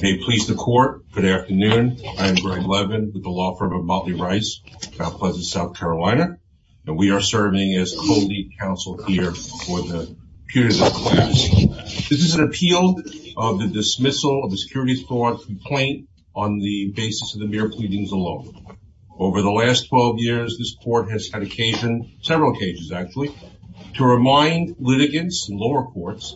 May it please the court, good afternoon. I am Greg Levin with the law firm of Motley Rice, South Pleasant, South Carolina, and we are serving as co-lead counsel here for the period of this class. This is an appeal of the dismissal of the security fraud complaint on the basis of the mere pleadings alone. Over the last 12 years this court has had occasion, several occasions actually, to remind litigants and lower courts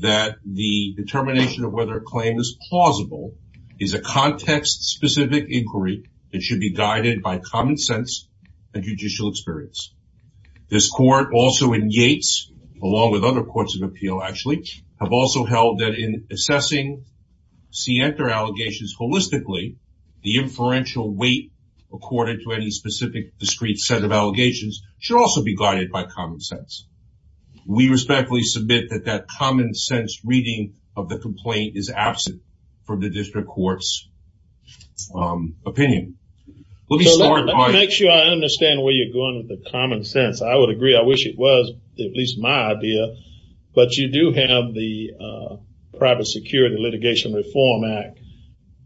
that the determination of whether a claim is plausible is a context-specific inquiry that should be guided by common sense and judicial experience. This court, also in Yates, along with other courts of appeal actually, have also held that in assessing Sienta allegations holistically the inferential weight according to any specific discrete set of allegations should also be guided by common sense. We respectfully submit that that common sense reading of the complaint is absent from the district courts opinion. Let me start by... Let me make sure I understand where you're going with the common sense. I would agree, I wish it was, at least my idea, but you do have the Private Security Litigation Reform Act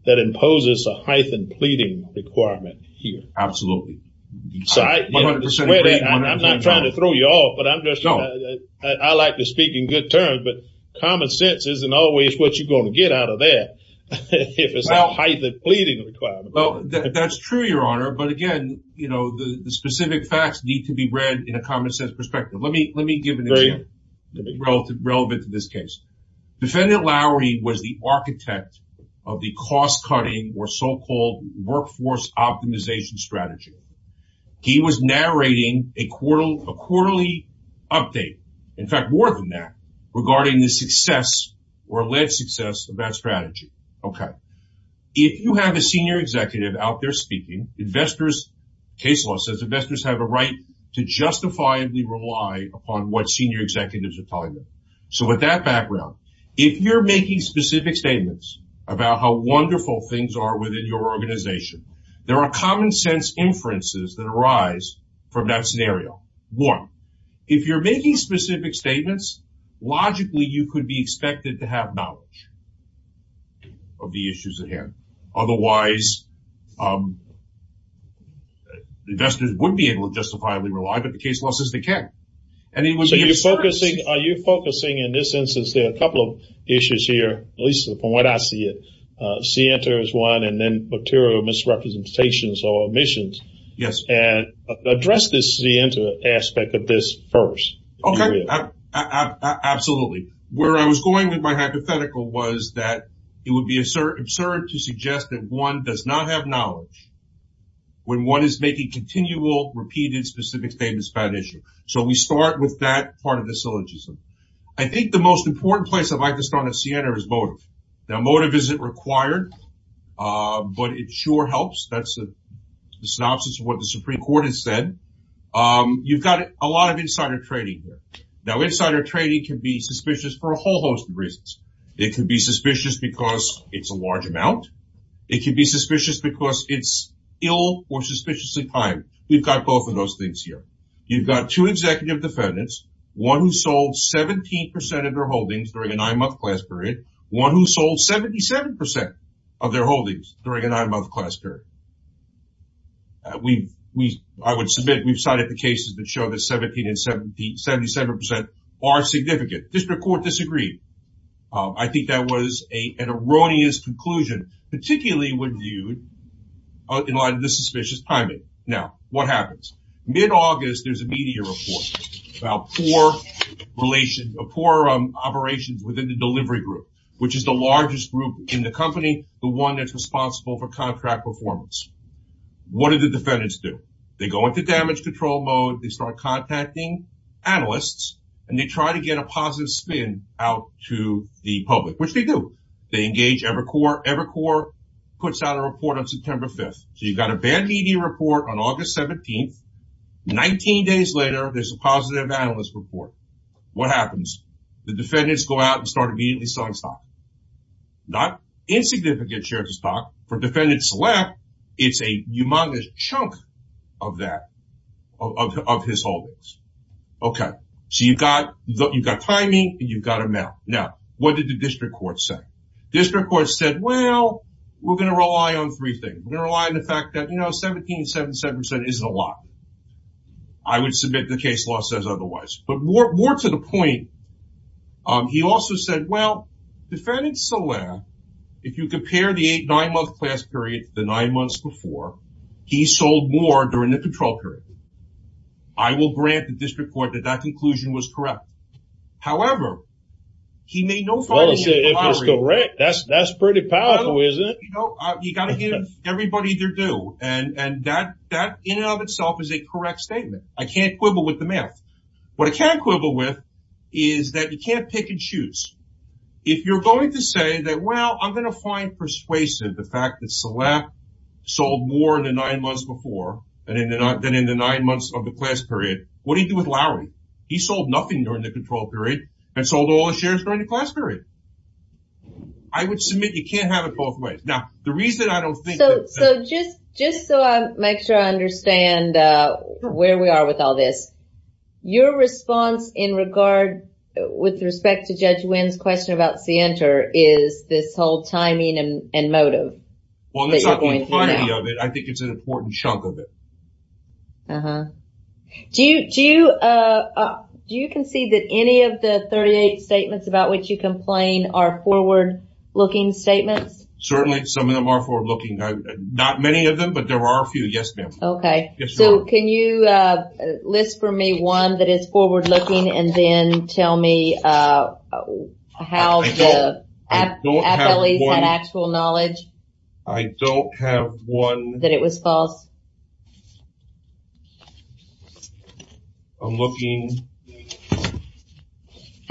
that imposes a hyphen pleading requirement here. Absolutely. So I'm not trying to throw you off, but I'm just, I like to speak in good terms, but common sense isn't always what you're going to get out of that if it's a hyphen pleading requirement. Well, that's true, Your Honor, but again, you know, the specific facts need to be read in a common-sense perspective. Let me give an example relevant to this case. Defendant Lowry was the architect of the cost-cutting or so-called workforce optimization strategy. He was narrating a quarterly update, in fact more than that, regarding the success or late success of that strategy. Okay, if you have a senior executive out there speaking, investors, case law says investors have a right to justifiably rely upon what senior executives are telling them. So with that background, if you're making specific statements about how wonderful things are within your organization, there are common-sense inferences that arise from that scenario. One, if you're making specific statements, logically you could be expected to have knowledge of the issues at hand. Otherwise, investors wouldn't be able to justifiably rely, but the case law says they can. So you're focusing, in this instance, there are a couple of issues here, at least from what I see it. C-enter is one, and then material misrepresentations or omissions. Yes. And address this C-enter aspect of this first. Okay, absolutely. Where I was going with my hypothetical was that it would be absurd to suggest that one does not have knowledge when one is making continual, repeated, specific statements about an issue. So we start with that part of the syllogism. I think the most important place I'd like to start on C-enter is motive. Now, motive isn't required, but it sure helps. That's a synopsis of what the Supreme Court has said. You've got a lot of insider trading here. Now, insider trading can be suspicious for a whole host of reasons. It can be suspicious because it's a large amount. It can be suspicious because it's ill or suspiciously timed. We've got both of those things here. You've got two executive defendants, one who sold 17% of their holdings during a nine-month class period, one who sold 77% of their holdings during a nine-month class period. We, I would submit, we've cited the cases that show that 17 and 77% are significant. District Court disagreed. I think that was an erroneous conclusion, particularly when viewed in light of the suspicious timing. Now, what happens? Mid-August, there's a media report about poor relations, poor operations within the delivery group, which is the largest group in the company, the one that's responsible for contract performance. What do the defendants do? They go into damage control mode, they start contacting analysts, and they try to get a positive spin out to the public, which they do. They engage Evercore, puts out a report on September 5th. So, you've got a bad media report on August 17th. 19 days later, there's a positive analyst report. What happens? The defendants go out and start immediately selling stock. Not insignificant shares of stock. For defendants left, it's a humongous chunk of that, of his holdings. Okay, so you've got timing and you've got amount. Now, what did the defendants do? Well, we're going to rely on three things. We're going to rely on the fact that, you know, 17.77% isn't a lot. I would submit the case law says otherwise. But more to the point, he also said, well, defendant Solaire, if you compare the eight- nine-month class period to the nine months before, he sold more during the control period. I will grant the district court that that conclusion was correct. However, he made no follow-up to Lowry. That's pretty powerful, isn't it? You know, you got to give everybody their due. And that, in and of itself, is a correct statement. I can't quibble with the math. What I can quibble with is that you can't pick and choose. If you're going to say that, well, I'm going to find persuasive the fact that Solaire sold more in the nine months before, than in the nine months of the class period, what do you do with Lowry? He sold nothing during the control period and sold all the shares during the class period. I would submit you can't have it both ways. Now, the reason I don't think... So, just so I make sure I understand where we are with all this, your response in regard, with respect to Judge Wynn's question about Sienter, is this whole timing and motive. Well, that's not the entirety of it. I think it's an important chunk of it. Uh-huh. Do you concede that any of the 38 statements about which you complain are forward-looking statements? Certainly, some of them are forward-looking. Not many of them, but there are a few. Yes, ma'am. Okay. So, can you list for me one that is forward-looking and then tell me how the at-bellies had actual knowledge that it was false? I don't have one. I'm looking...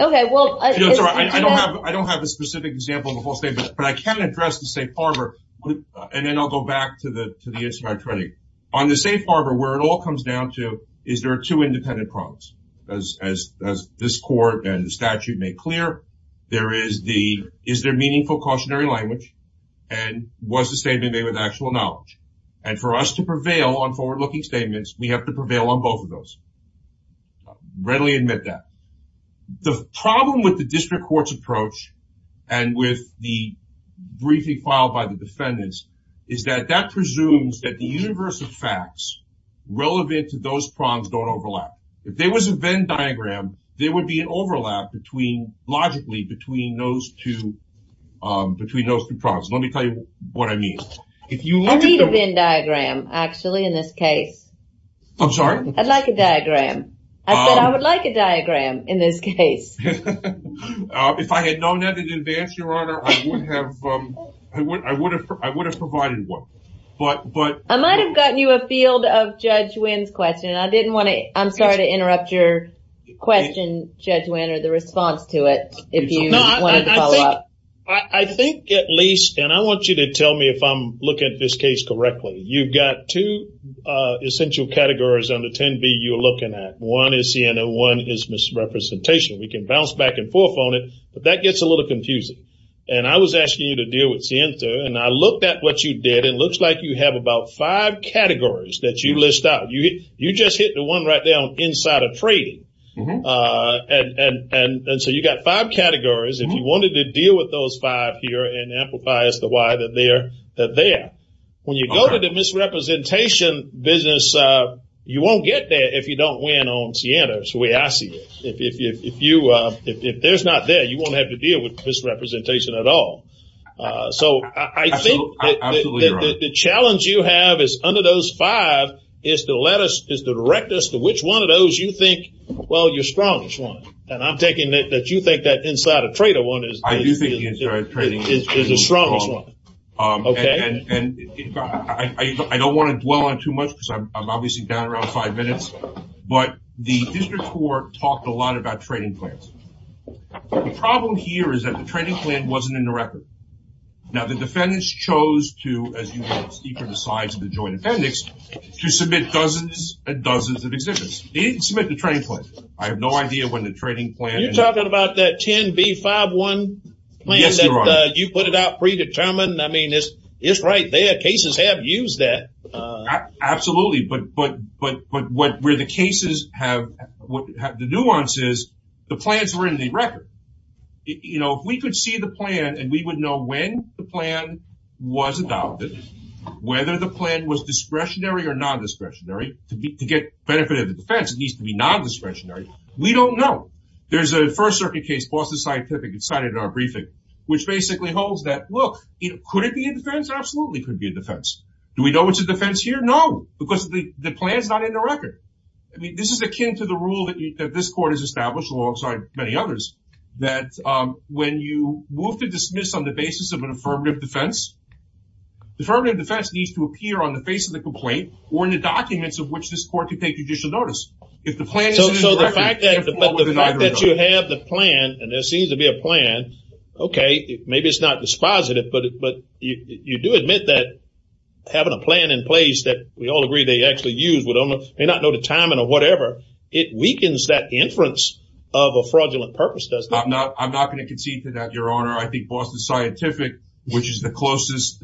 Okay, well... I don't have a specific example of the whole statement, but I can address the Safe Harbor, and then I'll go back to the answer to my training. On the Safe Harbor, where it all comes down to, is there are two independent problems? As this Court and the statute make clear, there is the, is there meaningful cautionary language, and was the statement made with actual knowledge? And for us to prevail on forward-looking statements, we have to prevail on both of those. I readily admit that. The problem with the district court's approach, and with the briefing filed by the defendants, is that that presumes that the universe of facts relevant to those problems don't overlap. If there was a Venn diagram, there would be an overlap between, logically, between those two problems. Let me tell you what I mean. I need a Venn diagram, actually, in this case. I'm sorry? I'd like a diagram. I said I would like a diagram, in this case. If I had known that in advance, Your Honor, I would have provided one. I might have gotten you a field of Judge Wynn's question, and I didn't want to... I'm sorry to interrupt your question, Judge Wynn, or the response to it, if you wanted to follow up. I think, at least, and I want you to tell me if I'm looking at this case correctly. You've got two essential categories under 10B you're looking at. One is Sienna, one is misrepresentation. We can bounce back and forth on it, but that gets a little confusing, and I was asking you to deal with Sienna, and I looked at what you did. It looks like you have about five categories that you list out. You just hit the one right there on insider trading, and so you got five to deal with those five here and amplify as to why they're there. When you go to the misrepresentation business, you won't get there if you don't win on Sienna, the way I see it. If there's not there, you won't have to deal with misrepresentation at all. So I think the challenge you have is, under those five, is to direct us to which one of those you think, well, I do think insider trading is the strongest one. I don't want to dwell on too much because I'm obviously down around five minutes, but the district court talked a lot about trading plans. The problem here is that the trading plan wasn't in the record. Now, the defendants chose to, as you can see from the size of the joint appendix, to submit dozens and dozens of exhibits. They didn't submit the trading plan. I have no doubt that the NB5-1 plan that you put it out predetermined. I mean, it's right there. Cases have used that. Absolutely, but where the cases have, the nuance is, the plans were in the record. You know, if we could see the plan and we would know when the plan was adopted, whether the plan was discretionary or non-discretionary, to get benefit of the defense, it needs to be non-discretionary. We don't know. There's a first-circuit case, Boston Scientific, it's cited in our briefing, which basically holds that, look, could it be a defense? Absolutely, it could be a defense. Do we know it's a defense here? No, because the plan is not in the record. I mean, this is akin to the rule that this court has established alongside many others, that when you move to dismiss on the basis of an affirmative defense, the affirmative defense needs to appear on the face of the court. So the fact that you have the plan, and there seems to be a plan, okay, maybe it's not dispositive, but you do admit that having a plan in place that we all agree they actually use, we may not know the timing or whatever, it weakens that inference of a fraudulent purpose, doesn't it? I'm not going to concede to that, Your Honor. I think Boston Scientific, which is the closest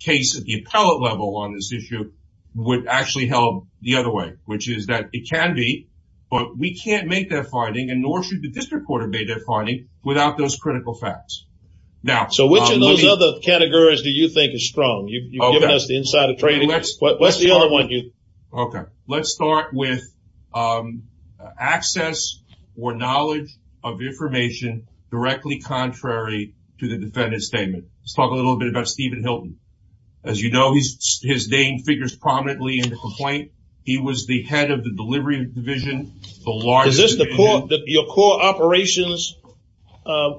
case at the appellate level on this issue, would actually help the other way, which is that it can be, but we can't make that finding, and nor should the district court have made that finding, without those critical facts. Now, so which of those other categories do you think is strong? You've given us the inside of trading. What's the other one, Hugh? Okay, let's start with access or knowledge of information directly contrary to the defendant's statement. Let's talk a little bit about Stephen Hilton. He was the head of the delivery division. Is this your core operations category?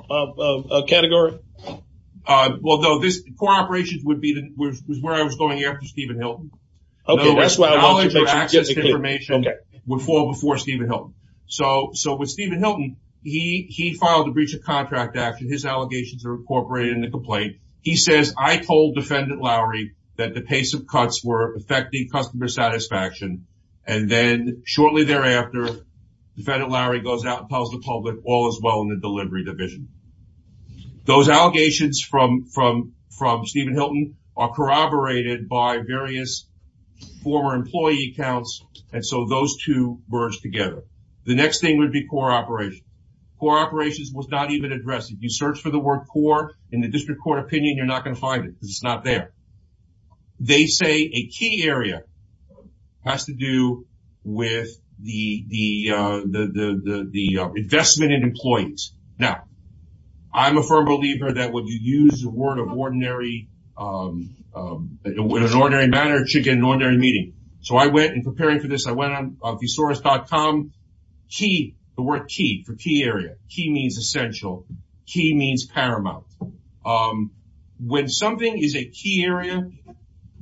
Well, no. Core operations was where I was going after Stephen Hilton. Okay, that's why I wanted to make sure it was clear. Knowledge of access to information would fall before Stephen Hilton. So with Stephen Hilton, he filed a breach of contract action. His allegations are incorporated in the complaint. He says, I told defendant Lowry that the pace of cuts were affecting customer satisfaction, and then shortly thereafter, defendant Lowry goes out and tells the public, all is well in the delivery division. Those allegations from Stephen Hilton are corroborated by various former employee accounts, and so those two merge together. The next thing would be core operations. Core operations was not even addressed. If you search for the word core in the district court opinion, you're not going to find it because it's not there. They say a key area has to do with the investment in employees. Now, I'm a firm believer that when you use the word of ordinary manner, it should get an ordinary meeting. So I went, in preparing for this, I went on means essential. Key means paramount. When something is a key area,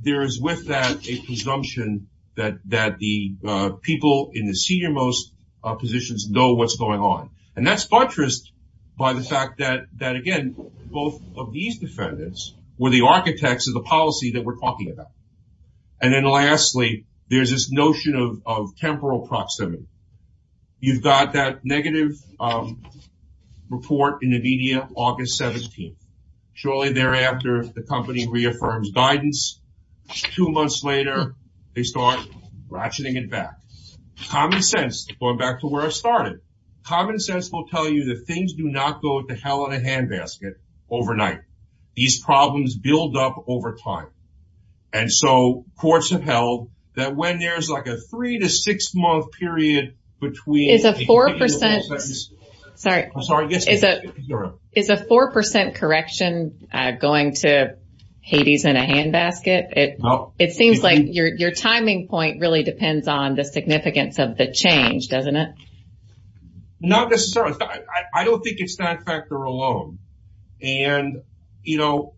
there is with that a presumption that the people in the senior most positions know what's going on, and that's buttressed by the fact that, again, both of these defendants were the architects of the policy that we're talking about. And then lastly, there's this notion of temporal proximity. You've got that negative report in the media August 17th. Shortly thereafter, the company reaffirms guidance. Two months later, they start ratcheting it back. Common sense, going back to where I started, common sense will tell you that things do not go to hell in a handbasket overnight. These problems build up over time. And so courts have held that when there's like a three to six month period between... Is a 4% correction going to Hades in a handbasket? It seems like your timing point really depends on the significance of the change, doesn't it? Not necessarily. I don't think it's that factor alone. And, you know,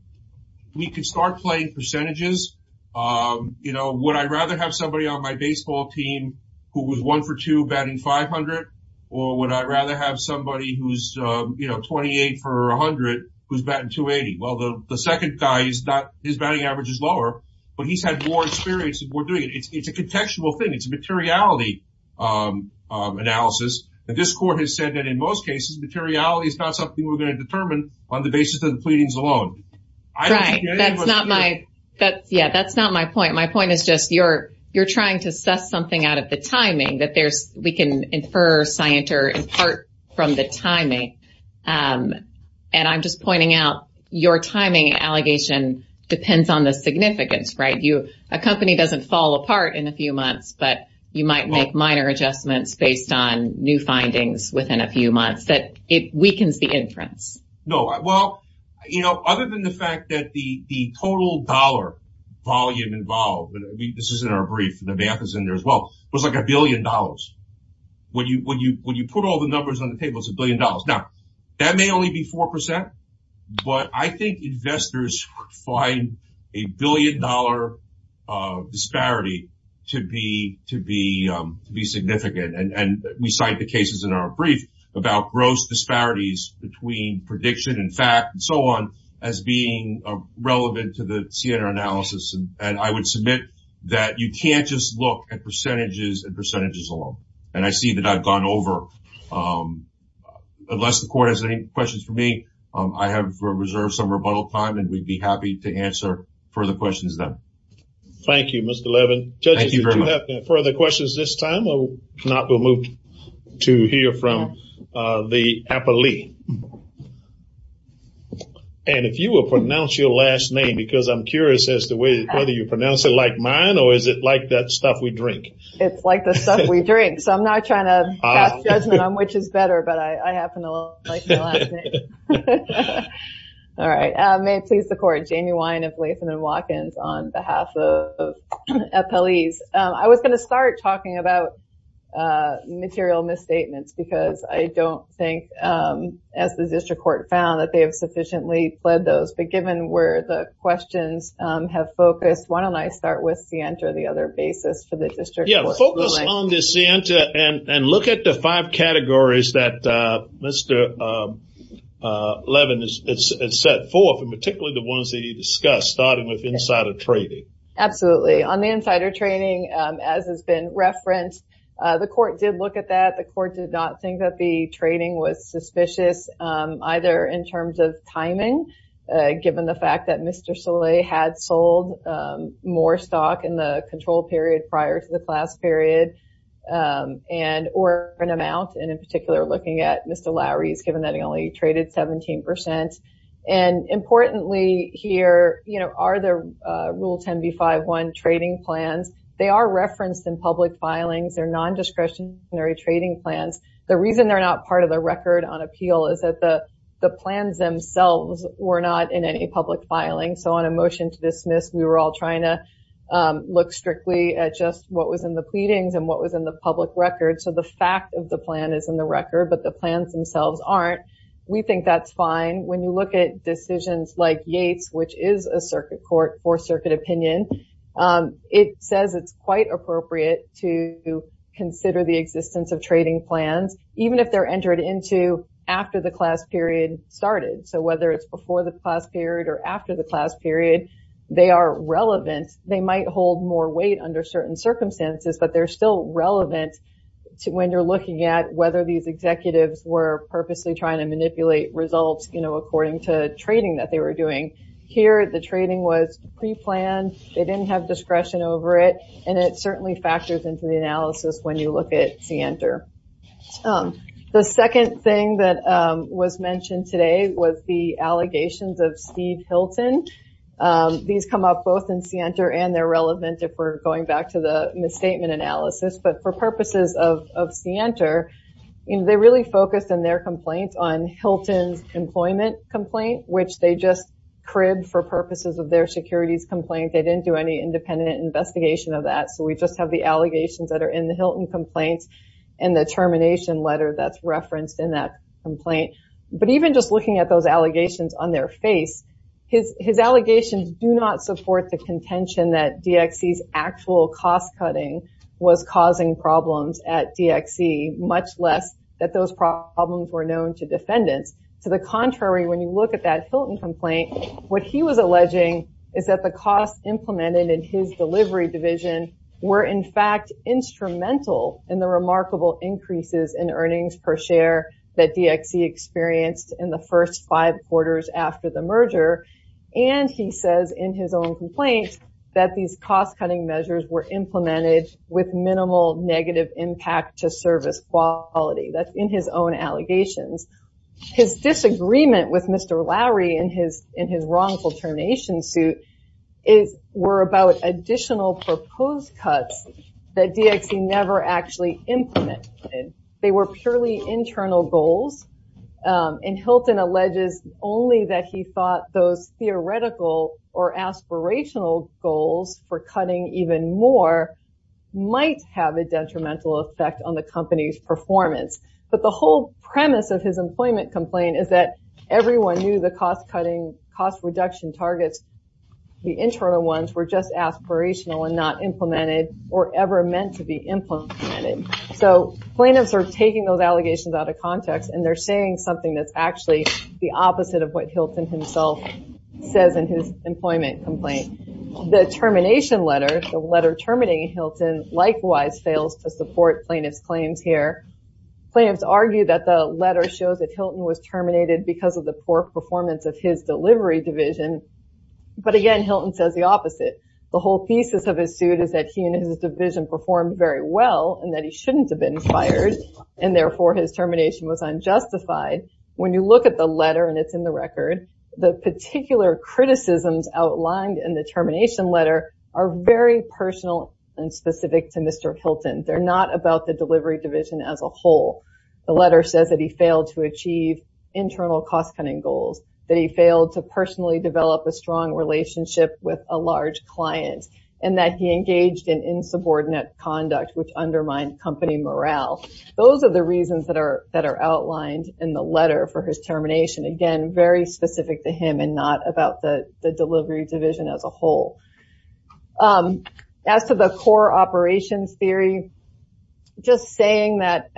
we can start playing percentages. You know, would I rather have somebody on my baseball team who was one for two batting 500, or would I rather have somebody who's 28 for 100 who's batting 280? Well, the second guy, his batting average is lower, but he's had more experience than we're doing. It's a contextual thing. It's a materiality analysis. And this court has said that in most cases, materiality is not something we're going to determine on the basis of the pleadings alone. Right. That's not my... Yeah, that's not my point. My point is just you're trying to suss something out of the timing that there's... We can infer, scienter, and part from the timing. And I'm just pointing out your timing allegation depends on the significance, right? A company doesn't fall apart in a few months, but you might make minor adjustments based on new findings within a few months that it weakens the inference. No. Well, you know, other than the fact that the total dollar volume involved, and this is in our brief, the math is in there as well, was like a billion dollars. When you put all the numbers on the table, it's a billion dollars. Now, that may only be 4%, but I think investors find a billion dollar disparity to be significant. And we cite the cases in our brief about gross disparities between prediction and fact and so on as being relevant to the CNR analysis. And I would submit that you can't just look at percentages and percentages alone. And I see that I've gone over. Unless the court has any questions for me, I have reserved some rebuttal time and we'd be happy to answer further questions then. Thank you, Mr. Levin. Judges, if you do have further questions this time, or if not, we'll move to hear from the appellee. And if you will pronounce your last name, because I'm curious as to whether you pronounce it like mine, or is it like that stuff we drink? It's like the stuff we drink. So I'm not trying to pass judgment on which is better, but I happen to like the last name. All right. May it please the court, Jamie Wynne of Latham & Watkins on behalf of the appellees. I was going to start talking about material misstatements because I don't think, as the district court found, that they have sufficiently fled those. But given where the questions have focused, why don't I start with Sienta, the other basis for the district? Yeah, focus on the Sienta and look at the five categories that Mr. Levin has set forth, particularly the ones that you discussed, starting with insider trading. Absolutely. On the insider trading, as has been referenced, the court did look at that. The court did not think that the trading was suspicious, either in terms of timing, given the fact that Mr. Soleil had sold more stock in the control period prior to the class period, or an amount, and in particular, looking at Mr. Lowry's, given that he only traded 17%. And importantly here, are there Rule 10b-5-1 trading plans? They are referenced in public filings. They're non-discretionary trading plans. The reason they're not part of the record on appeal is that the plans themselves were not in any public filing. So on a motion to dismiss, we were all trying to look strictly at just what was in the pleadings and what was in the public record. So the fact of the plan is in the record, but the plans themselves aren't. We think that's fine. When you look at decisions like Yates, which is a circuit court for circuit opinion, it says it's quite appropriate to consider the existence of trading plans, even if they're entered into after the class period started. So whether it's before the class period or after the class period, they are relevant. They might hold more weight under certain circumstances, but they're still relevant when you're looking at whether these executives were purposely trying to manipulate results, you know, according to trading that they were doing. Here, the trading was pre-planned. They didn't have discretion over it. And it certainly factors into the analysis when you look at Sienter. The second thing that was mentioned today was the allegations of Steve Hilton. These come up both in Sienter and they're relevant if we're going back to the statement analysis. But for purposes of Sienter, you know, they really focused on their complaints on Hilton's employment complaint, which they just cribbed for purposes of their securities complaint. They didn't do any independent investigation of that. So we just have the allegations that are in the Hilton complaints and the termination letter that's referenced in that complaint. But even just looking at those allegations on their face, his allegations do not support the contention that DXC's actual cost cutting was causing problems at DXC, much less that those problems were known to defendants. To the contrary, when you look at that Hilton complaint, what he was alleging is that the costs implemented in his delivery division were in fact instrumental in the remarkable increases in earnings per share that DXC experienced in the first five quarters after the merger. And he says in his own complaint that these cost cutting measures were implemented with minimal negative impact to service quality. That's in his own allegations. His disagreement with Mr. Lowry in his wrongful termination suit were about additional proposed cuts that DXC never actually implemented. They were purely internal goals. And Hilton alleges only that he thought those theoretical or aspirational goals for cutting even more might have a detrimental effect on the company's performance. But the whole premise of his employment complaint is that everyone knew the cost cutting, cost reduction targets, the internal ones, were just aspirational and not implemented or ever meant to be implemented. So plaintiffs are taking those allegations out of context and they're saying something that's actually the opposite of what Hilton himself says in his employment complaint. The termination letter, the letter terminating Hilton, likewise fails to support plaintiff's claims here. Plaintiffs argue that the letter shows that Hilton was terminated because of the poor performance of his delivery division. But again, Hilton says the opposite. The whole thesis of his suit is that he and his division performed very well and that he shouldn't have been fired and therefore his termination was unjustified. When you look at the letter and it's in the record, the particular criticisms outlined in the termination letter are very personal and specific to Mr. Hilton. They're not about the delivery division as a whole. The letter says that he failed to achieve internal cost cutting goals, that he failed to personally develop a strong relationship with a large client, and that he engaged in insubordinate conduct which undermined company morale. Those are the reasons that are outlined in the letter for his termination. Again, very specific to him and not about the delivery division as a whole. As to the core operations theory, just saying that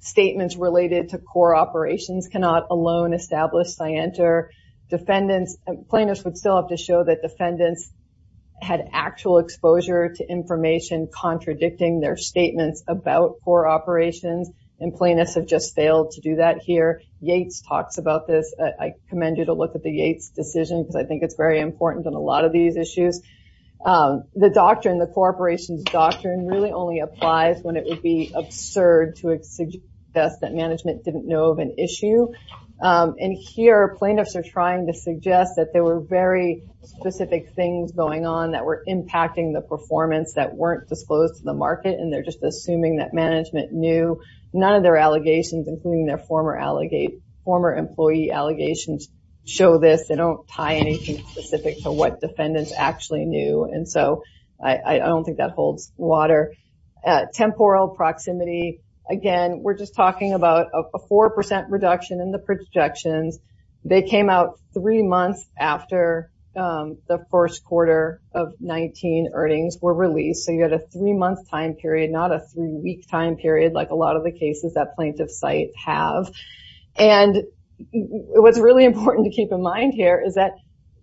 statements related to core operations cannot alone establish scienter. Plaintiffs would still have to show that defendants had actual exposure to information contradicting their statements about core operations, and plaintiffs have just failed to do that here. Yates talks about this. I commend you to look at Yates' decision because I think it's very important on a lot of these issues. The doctrine, the core operations doctrine, really only applies when it would be absurd to suggest that management didn't know of an issue, and here plaintiffs are trying to suggest that there were very specific things going on that were impacting the performance that weren't disclosed to the market, and they're just assuming that management knew. None of their allegations, including their former employee allegations, show this. They don't tie anything specific to what defendants actually knew, and so I don't think that holds water. Temporal proximity, again, we're just talking about a 4% reduction in the projections. They came out three months after the first quarter of 19 earnings were released, so you had a three-month time period, not a three-week time period like a lot of the what's really important to keep in mind here is that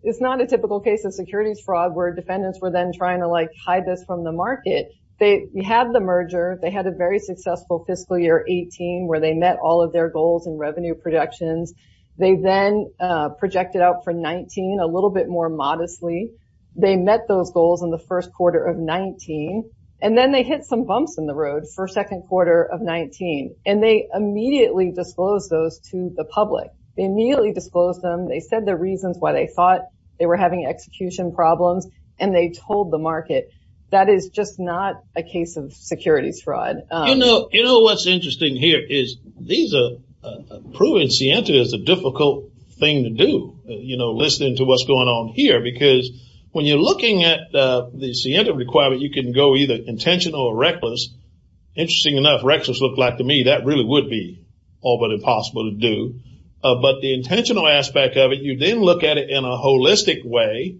it's not a typical case of securities fraud where defendants were then trying to hide this from the market. They had the merger. They had a very successful fiscal year 18 where they met all of their goals and revenue projections. They then projected out for 19 a little bit more modestly. They met those goals in the first quarter of 19, and then they hit some bumps in the road for second quarter of 19, and they immediately disclosed those to the public. They immediately disclosed them. They said the reasons why they thought they were having execution problems, and they told the market. That is just not a case of securities fraud. You know what's interesting here is these are proving Sienta is a difficult thing to do, you know, listening to what's going on here because when you're looking at the Sienta requirement, you can go either intentional or reckless. Interesting enough, reckless looked like to me that really would be all but impossible to do, but the intentional aspect of it, you then look at it in a holistic way,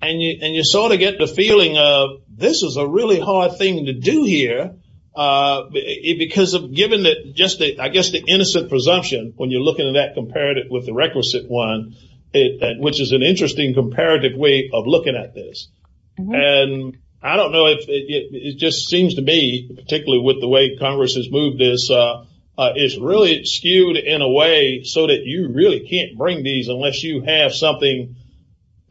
and you sort of get the feeling of this is a really hard thing to do here because of given that just I guess the innocent presumption when you're looking at that comparative with the requisite one, which is an interesting comparative way of looking at this, and I don't know if it just seems to be particularly with the way Congress has moved this. It's really skewed in a way so that you really can't bring these unless you have something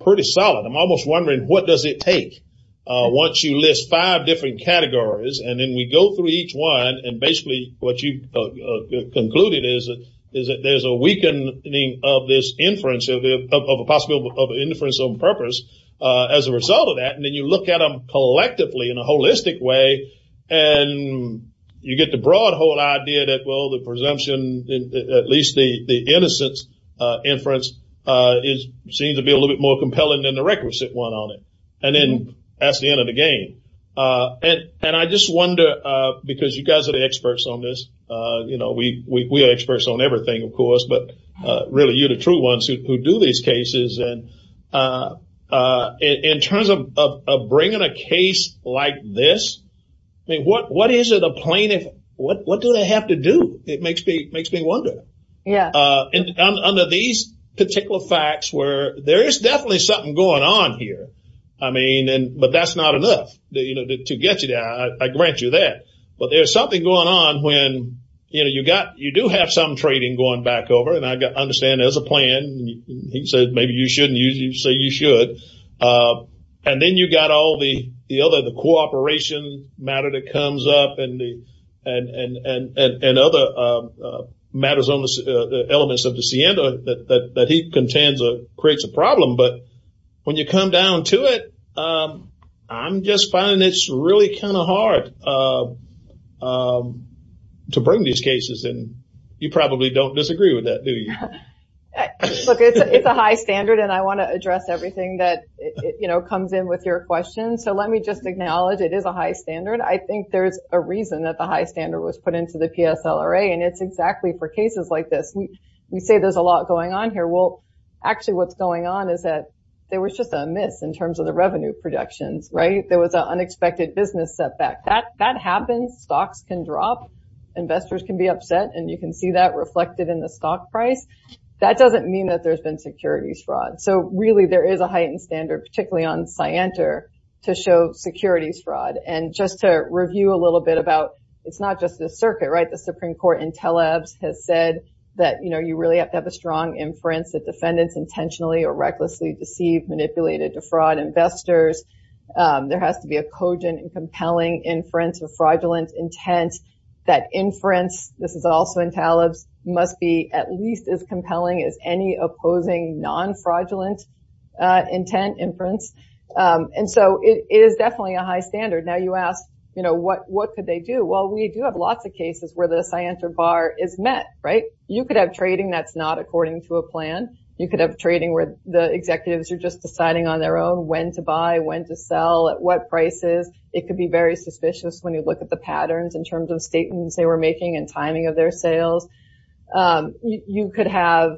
pretty solid. I'm almost wondering what does it take once you list five different categories, and then we go through each one, and basically what you concluded is that there's a weakening of this inference of a possible inference on purpose as a result of that, and then you look at them collectively in a holistic way, and you get the broad whole idea that, well, the presumption, at least the innocence inference seems to be a little bit more compelling than the requisite one on it, and then that's the end of the game, and I just wonder because you guys are the experts on this. We are experts on everything, of course, but really you're the true ones who do these cases, and in terms of bringing a case like this, I mean, what is it a plaintiff, what do they have to do? It makes me wonder. Under these particular facts where there is definitely something going on here, I mean, but that's not enough to get you there. I grant you that, but there's something going on when you do have some trading going back over, and I understand there's a plan, he said maybe you shouldn't say you should, and then you got all the other, the cooperation matter that comes up, and other matters on the elements of the SIEM that he contains or creates a problem, but when you come down to it, I'm just finding it's really kind of hard to bring these cases, and you probably don't disagree with that, do you? Look, it's a high standard, and I want to address everything that comes in with your question, so let me just acknowledge it is a high standard. I think there's a reason that the high standard was put into the PSLRA, and it's exactly for cases like this. We say there's a lot going on here. Well, actually what's going on is that there was just a miss in terms of the revenue productions, right? There was an unexpected business setback. That happens. Stocks can drop. Investors can be upset, and you can see that reflected in the stock price. That doesn't mean that there's been securities fraud, so really there is a heightened standard, particularly on Scienter, to show securities fraud, and just to review a little bit about it's not just the circuit, right? The Supreme Court in Telebs has said that you really have to have a strong inference that defendants intentionally or recklessly deceived, manipulated to fraud investors. There has to be a cogent and compelling inference or fraudulent intent. That inference, this is also in Telebs, must be at least as compelling as any opposing non-fraudulent intent inference, and so it is definitely a high standard. Now, you ask, you know, what could they do? Well, we do have lots of cases where the Scienter bar is met, right? You could have trading that's not according to a plan. You could have trading where the executives are just deciding on their own when to buy, when to sell, at what prices. It could be very suspicious when you look at the patterns in terms of statements they were making and timing of their sales. You could have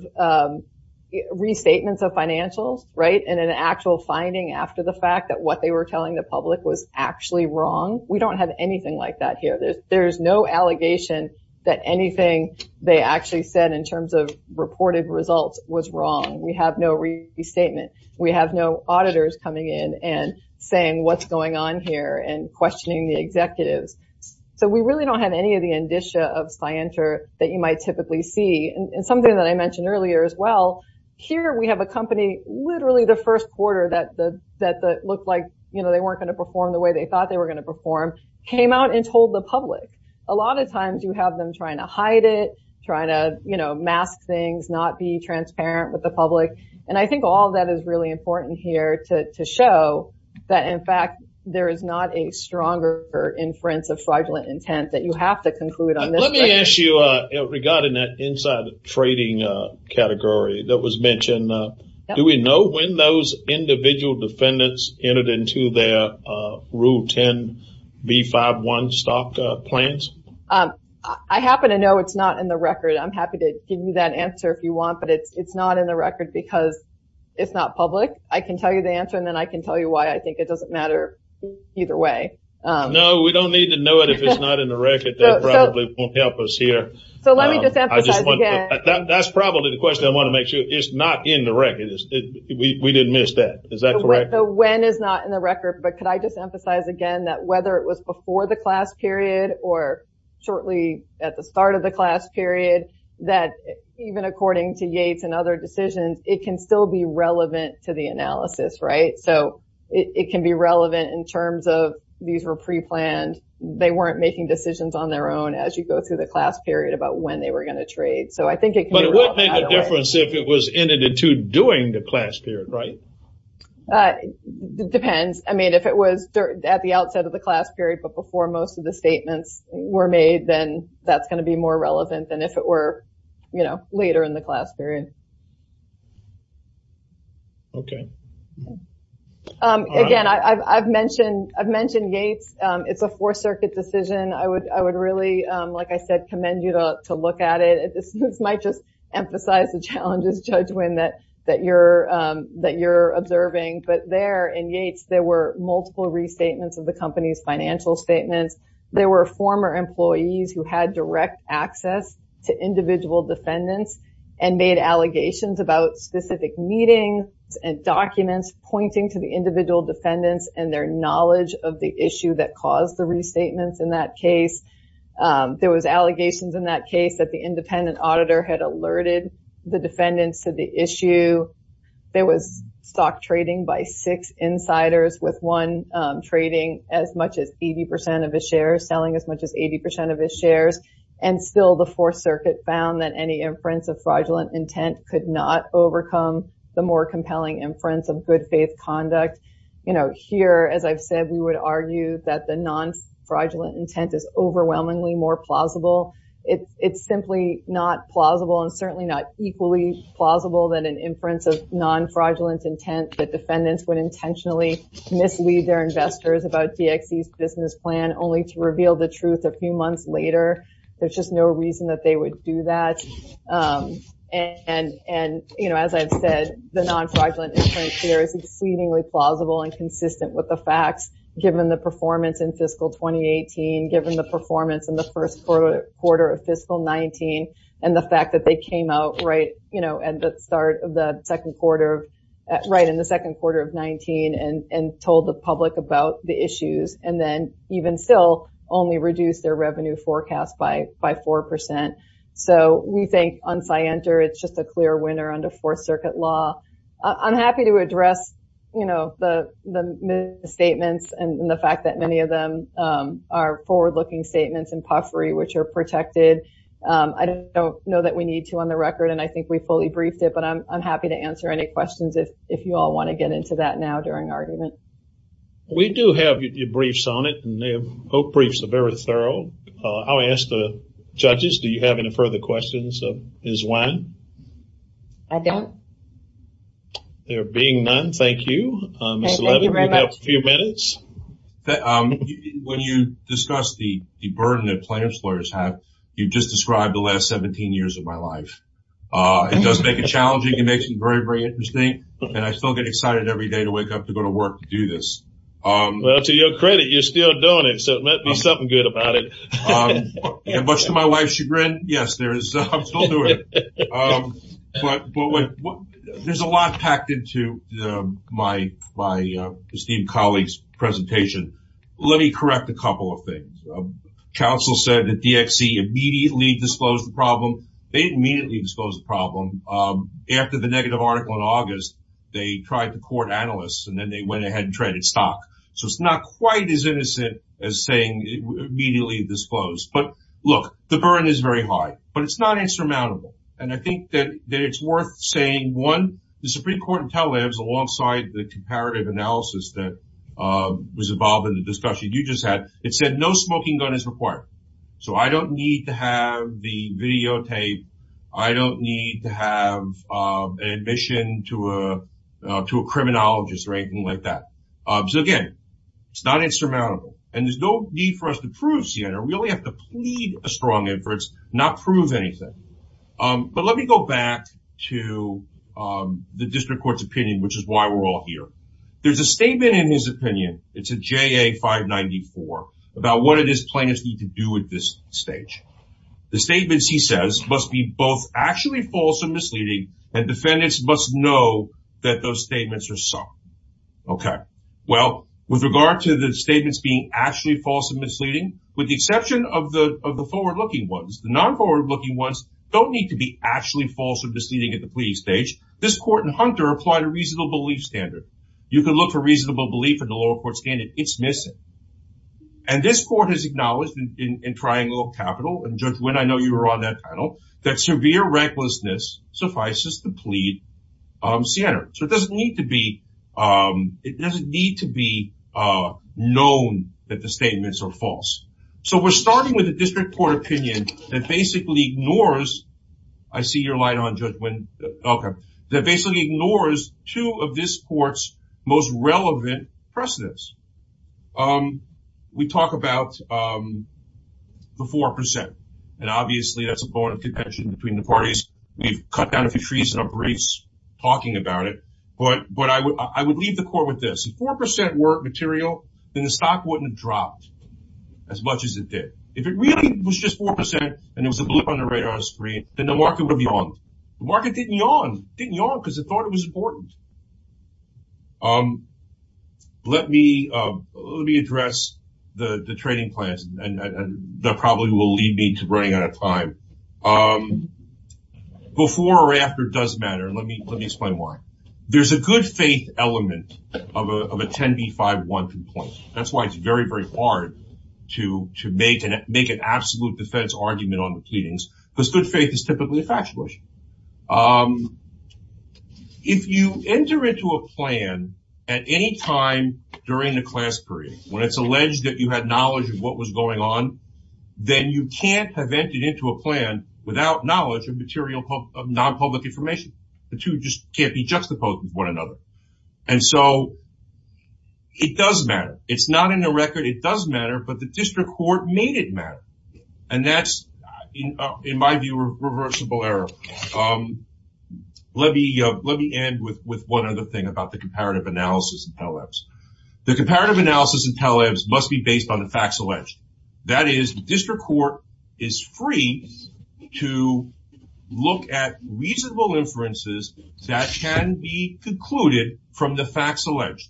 restatements of financials, right, and an actual finding after the fact that what they were telling the public was actually wrong. We don't have anything like that here. There's no allegation that anything they actually said in terms of reported results was wrong. We have no restatement. We have no auditors coming in and saying what's going on here and questioning the executives, so we really don't have any of the indicia of Scienter that you might typically see, and something that I mentioned earlier as well, here we have a company, literally the first quarter that looked like, you know, they weren't going to perform the way they thought they were going to perform, came out and told the public. A lot of times you have them trying to hide it, trying to, you know, mask things, not be transparent with the public, and I think all that is really important here to show that in fact there is not a stronger inference of fraudulent intent that you have to conclude on this. Let me ask you regarding that inside trading category that was mentioned, do we know when those individual defendants entered into their rule 10 v5.1 stock plans? I happen to know it's not in the record. I'm happy to give you that answer if you want, but it's not in the record because it's not public. I can tell you the answer and then I can tell you why I think it doesn't matter either way. No, we don't need to know it if it's not in the record. That probably won't help us here. So let me just emphasize again. That's probably the question I want to make sure it's not in the record. We didn't miss that. Is that correct? The when is not in the record, but could I just emphasize again that whether it was before the class period or shortly at the start of the class period, that even according to Yates and other decisions, it can still be relevant to the analysis, right? So it can be relevant in terms of these were pre-planned. They weren't making decisions on their own as you go through the trade. But it wouldn't make a difference if it was in and to doing the class period, right? Depends. I mean, if it was at the outset of the class period, but before most of the statements were made, then that's going to be more relevant than if it were, you know, later in the class period. Okay. Again, I've mentioned Yates. It's a fourth circuit decision. I would really, like I said, commend you to look at it. This might just emphasize the challenges, Judge Wynn, that you're observing. But there in Yates, there were multiple restatements of the company's financial statements. There were former employees who had direct access to individual defendants and made allegations about specific meetings and documents pointing to the individual defendants and their knowledge of the issue that caused the restatements in that there was allegations in that case that the independent auditor had alerted the defendants to the issue. There was stock trading by six insiders with one trading as much as 80% of his shares, selling as much as 80% of his shares. And still the fourth circuit found that any inference of fraudulent intent could not overcome the more compelling inference of good faith conduct. You know, here, as I've said, we would argue that the non-fraudulent intent is overwhelmingly more plausible. It's simply not plausible and certainly not equally plausible that an inference of non-fraudulent intent that defendants would intentionally mislead their investors about DXE's business plan only to reveal the truth a few months later. There's just no reason that they would do that. And, you know, as I've said, the non-fraudulent inference here is exceedingly plausible and consistent with the facts given the performance in fiscal 2018, given the performance in the first quarter of fiscal 19, and the fact that they came out right, you know, at the start of the second quarter, right in the second quarter of 19, and told the public about the issues and then even still only reduced their revenue forecast by 4%. So we think on Scienter, it's just a clear winner under fourth circuit law. I'm happy to address, you know, the statements and the fact that many of them are forward-looking statements and puffery, which are protected. I don't know that we need to on the record, and I think we fully briefed it, but I'm happy to answer any questions if you all want to get into that now during argument. We do have your briefs on it, and their briefs are very thorough. I'll ask the judges, do you have any further questions of Ms. Wine? I don't. There being none, thank you. When you discuss the burden that plaintiff's lawyers have, you've just described the last 17 years of my life. It does make it challenging, it makes it very, very interesting, and I still get excited every day to wake up to go to work to do this. Well, to your credit, you're still doing it, so it might be something good about it. Much to my wife's chagrin, yes, I'm still doing it. But there's a lot packed into my esteemed colleague's presentation. Let me correct a couple of things. Counsel said that DXC immediately disclosed the problem. They immediately disclosed the problem. After the negative article in August, they tried to court analysts, and then they went ahead and traded stock. So it's not quite as innocent as saying immediately disclosed. But the burden is very high, but it's not insurmountable. And I think that it's worth saying, one, the Supreme Court of Tel Aviv, alongside the comparative analysis that was involved in the discussion you just had, it said no smoking gun is required. So I don't need to have the videotape. I don't need to have an admission to a criminologist or anything like that. So again, it's not insurmountable. And there's no need for us to plead a strong inference, not prove anything. But let me go back to the district court's opinion, which is why we're all here. There's a statement in his opinion, it's a JA 594, about what do these plaintiffs need to do at this stage. The statements, he says, must be both actually false and misleading, and defendants must know that those statements are so. Okay. Well, with regard to the statements being actually false and misleading, with the forward-looking ones, the non-forward-looking ones don't need to be actually false or misleading at the plea stage. This court in Hunter applied a reasonable belief standard. You can look for reasonable belief in the lower court standard. It's missing. And this court has acknowledged in Triangle of Capital, and Judge Wynn, I know you were on that panel, that severe recklessness suffices to plead Siena. So it doesn't need to be known that the statements are false. So we're starting with a district court opinion that basically ignores, I see your light on, Judge Wynn. Okay. That basically ignores two of this court's most relevant precedents. We talk about the 4%. And obviously, that's a point of contention between the parties. We've cut down a few trees in our briefs talking about it. But I would leave the court with this. If the 4% were material, then the stock wouldn't have dropped as much as it did. If it really was just 4%, and it was a blip on the radar screen, then the market would have yawned. The market didn't yawn. It didn't yawn because it thought it was important. Let me address the trading plans, and that probably will lead me to running out of time. Before or after does matter. Let me explain why. There's a good faith element of a 10B512 plan. That's why it's very, very hard to make an absolute defense argument on the pleadings, because good faith is typically a factual issue. If you enter into a plan at any time during the class period, when it's alleged that you had knowledge of what was going on, then you can't have entered into a plan without knowledge of non-public information. The two just can't be juxtaposed with one another. It does matter. It's not in the record. It does matter, but the district court made it matter. That's, in my view, a reversible error. Let me end with one other thing about the comparative analysis in Pell Labs. The comparative analysis in Pell Labs must be based on a factual edge. That is, the district court is free to look at reasonable inferences that can be concluded from the facts alleged.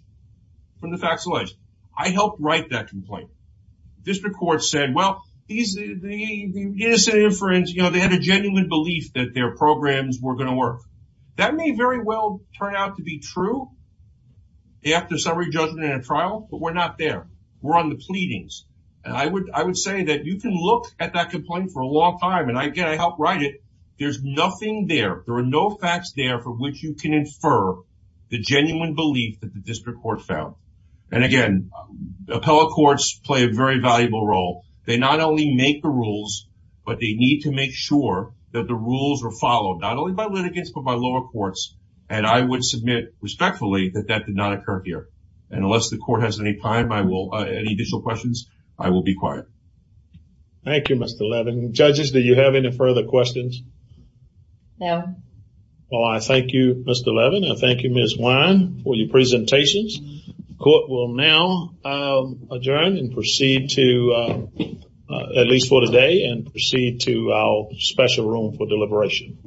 I helped write that complaint. The district court said, well, they had a genuine belief that their programs were going to work. That may very well turn out to be true after summary judgment and a trial, but we're not there. We're on the side. You can look at that complaint for a long time. Again, I helped write it. There's nothing there. There are no facts there for which you can infer the genuine belief that the district court found. Again, appellate courts play a very valuable role. They not only make the rules, but they need to make sure that the rules are followed, not only by litigants, but by lower courts. I would submit respectfully that that did not occur here. Unless the court has any additional questions, I will be quiet. Thank you, Mr. Levin. Judges, do you have any further questions? No. Well, I thank you, Mr. Levin. I thank you, Ms. Wine, for your presentations. The court will now adjourn and proceed to, at least for today, and proceed to our special room for deliberation.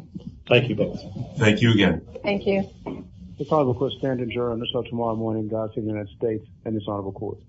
Thank you, both. Thank you again. Thank you. This honorable court.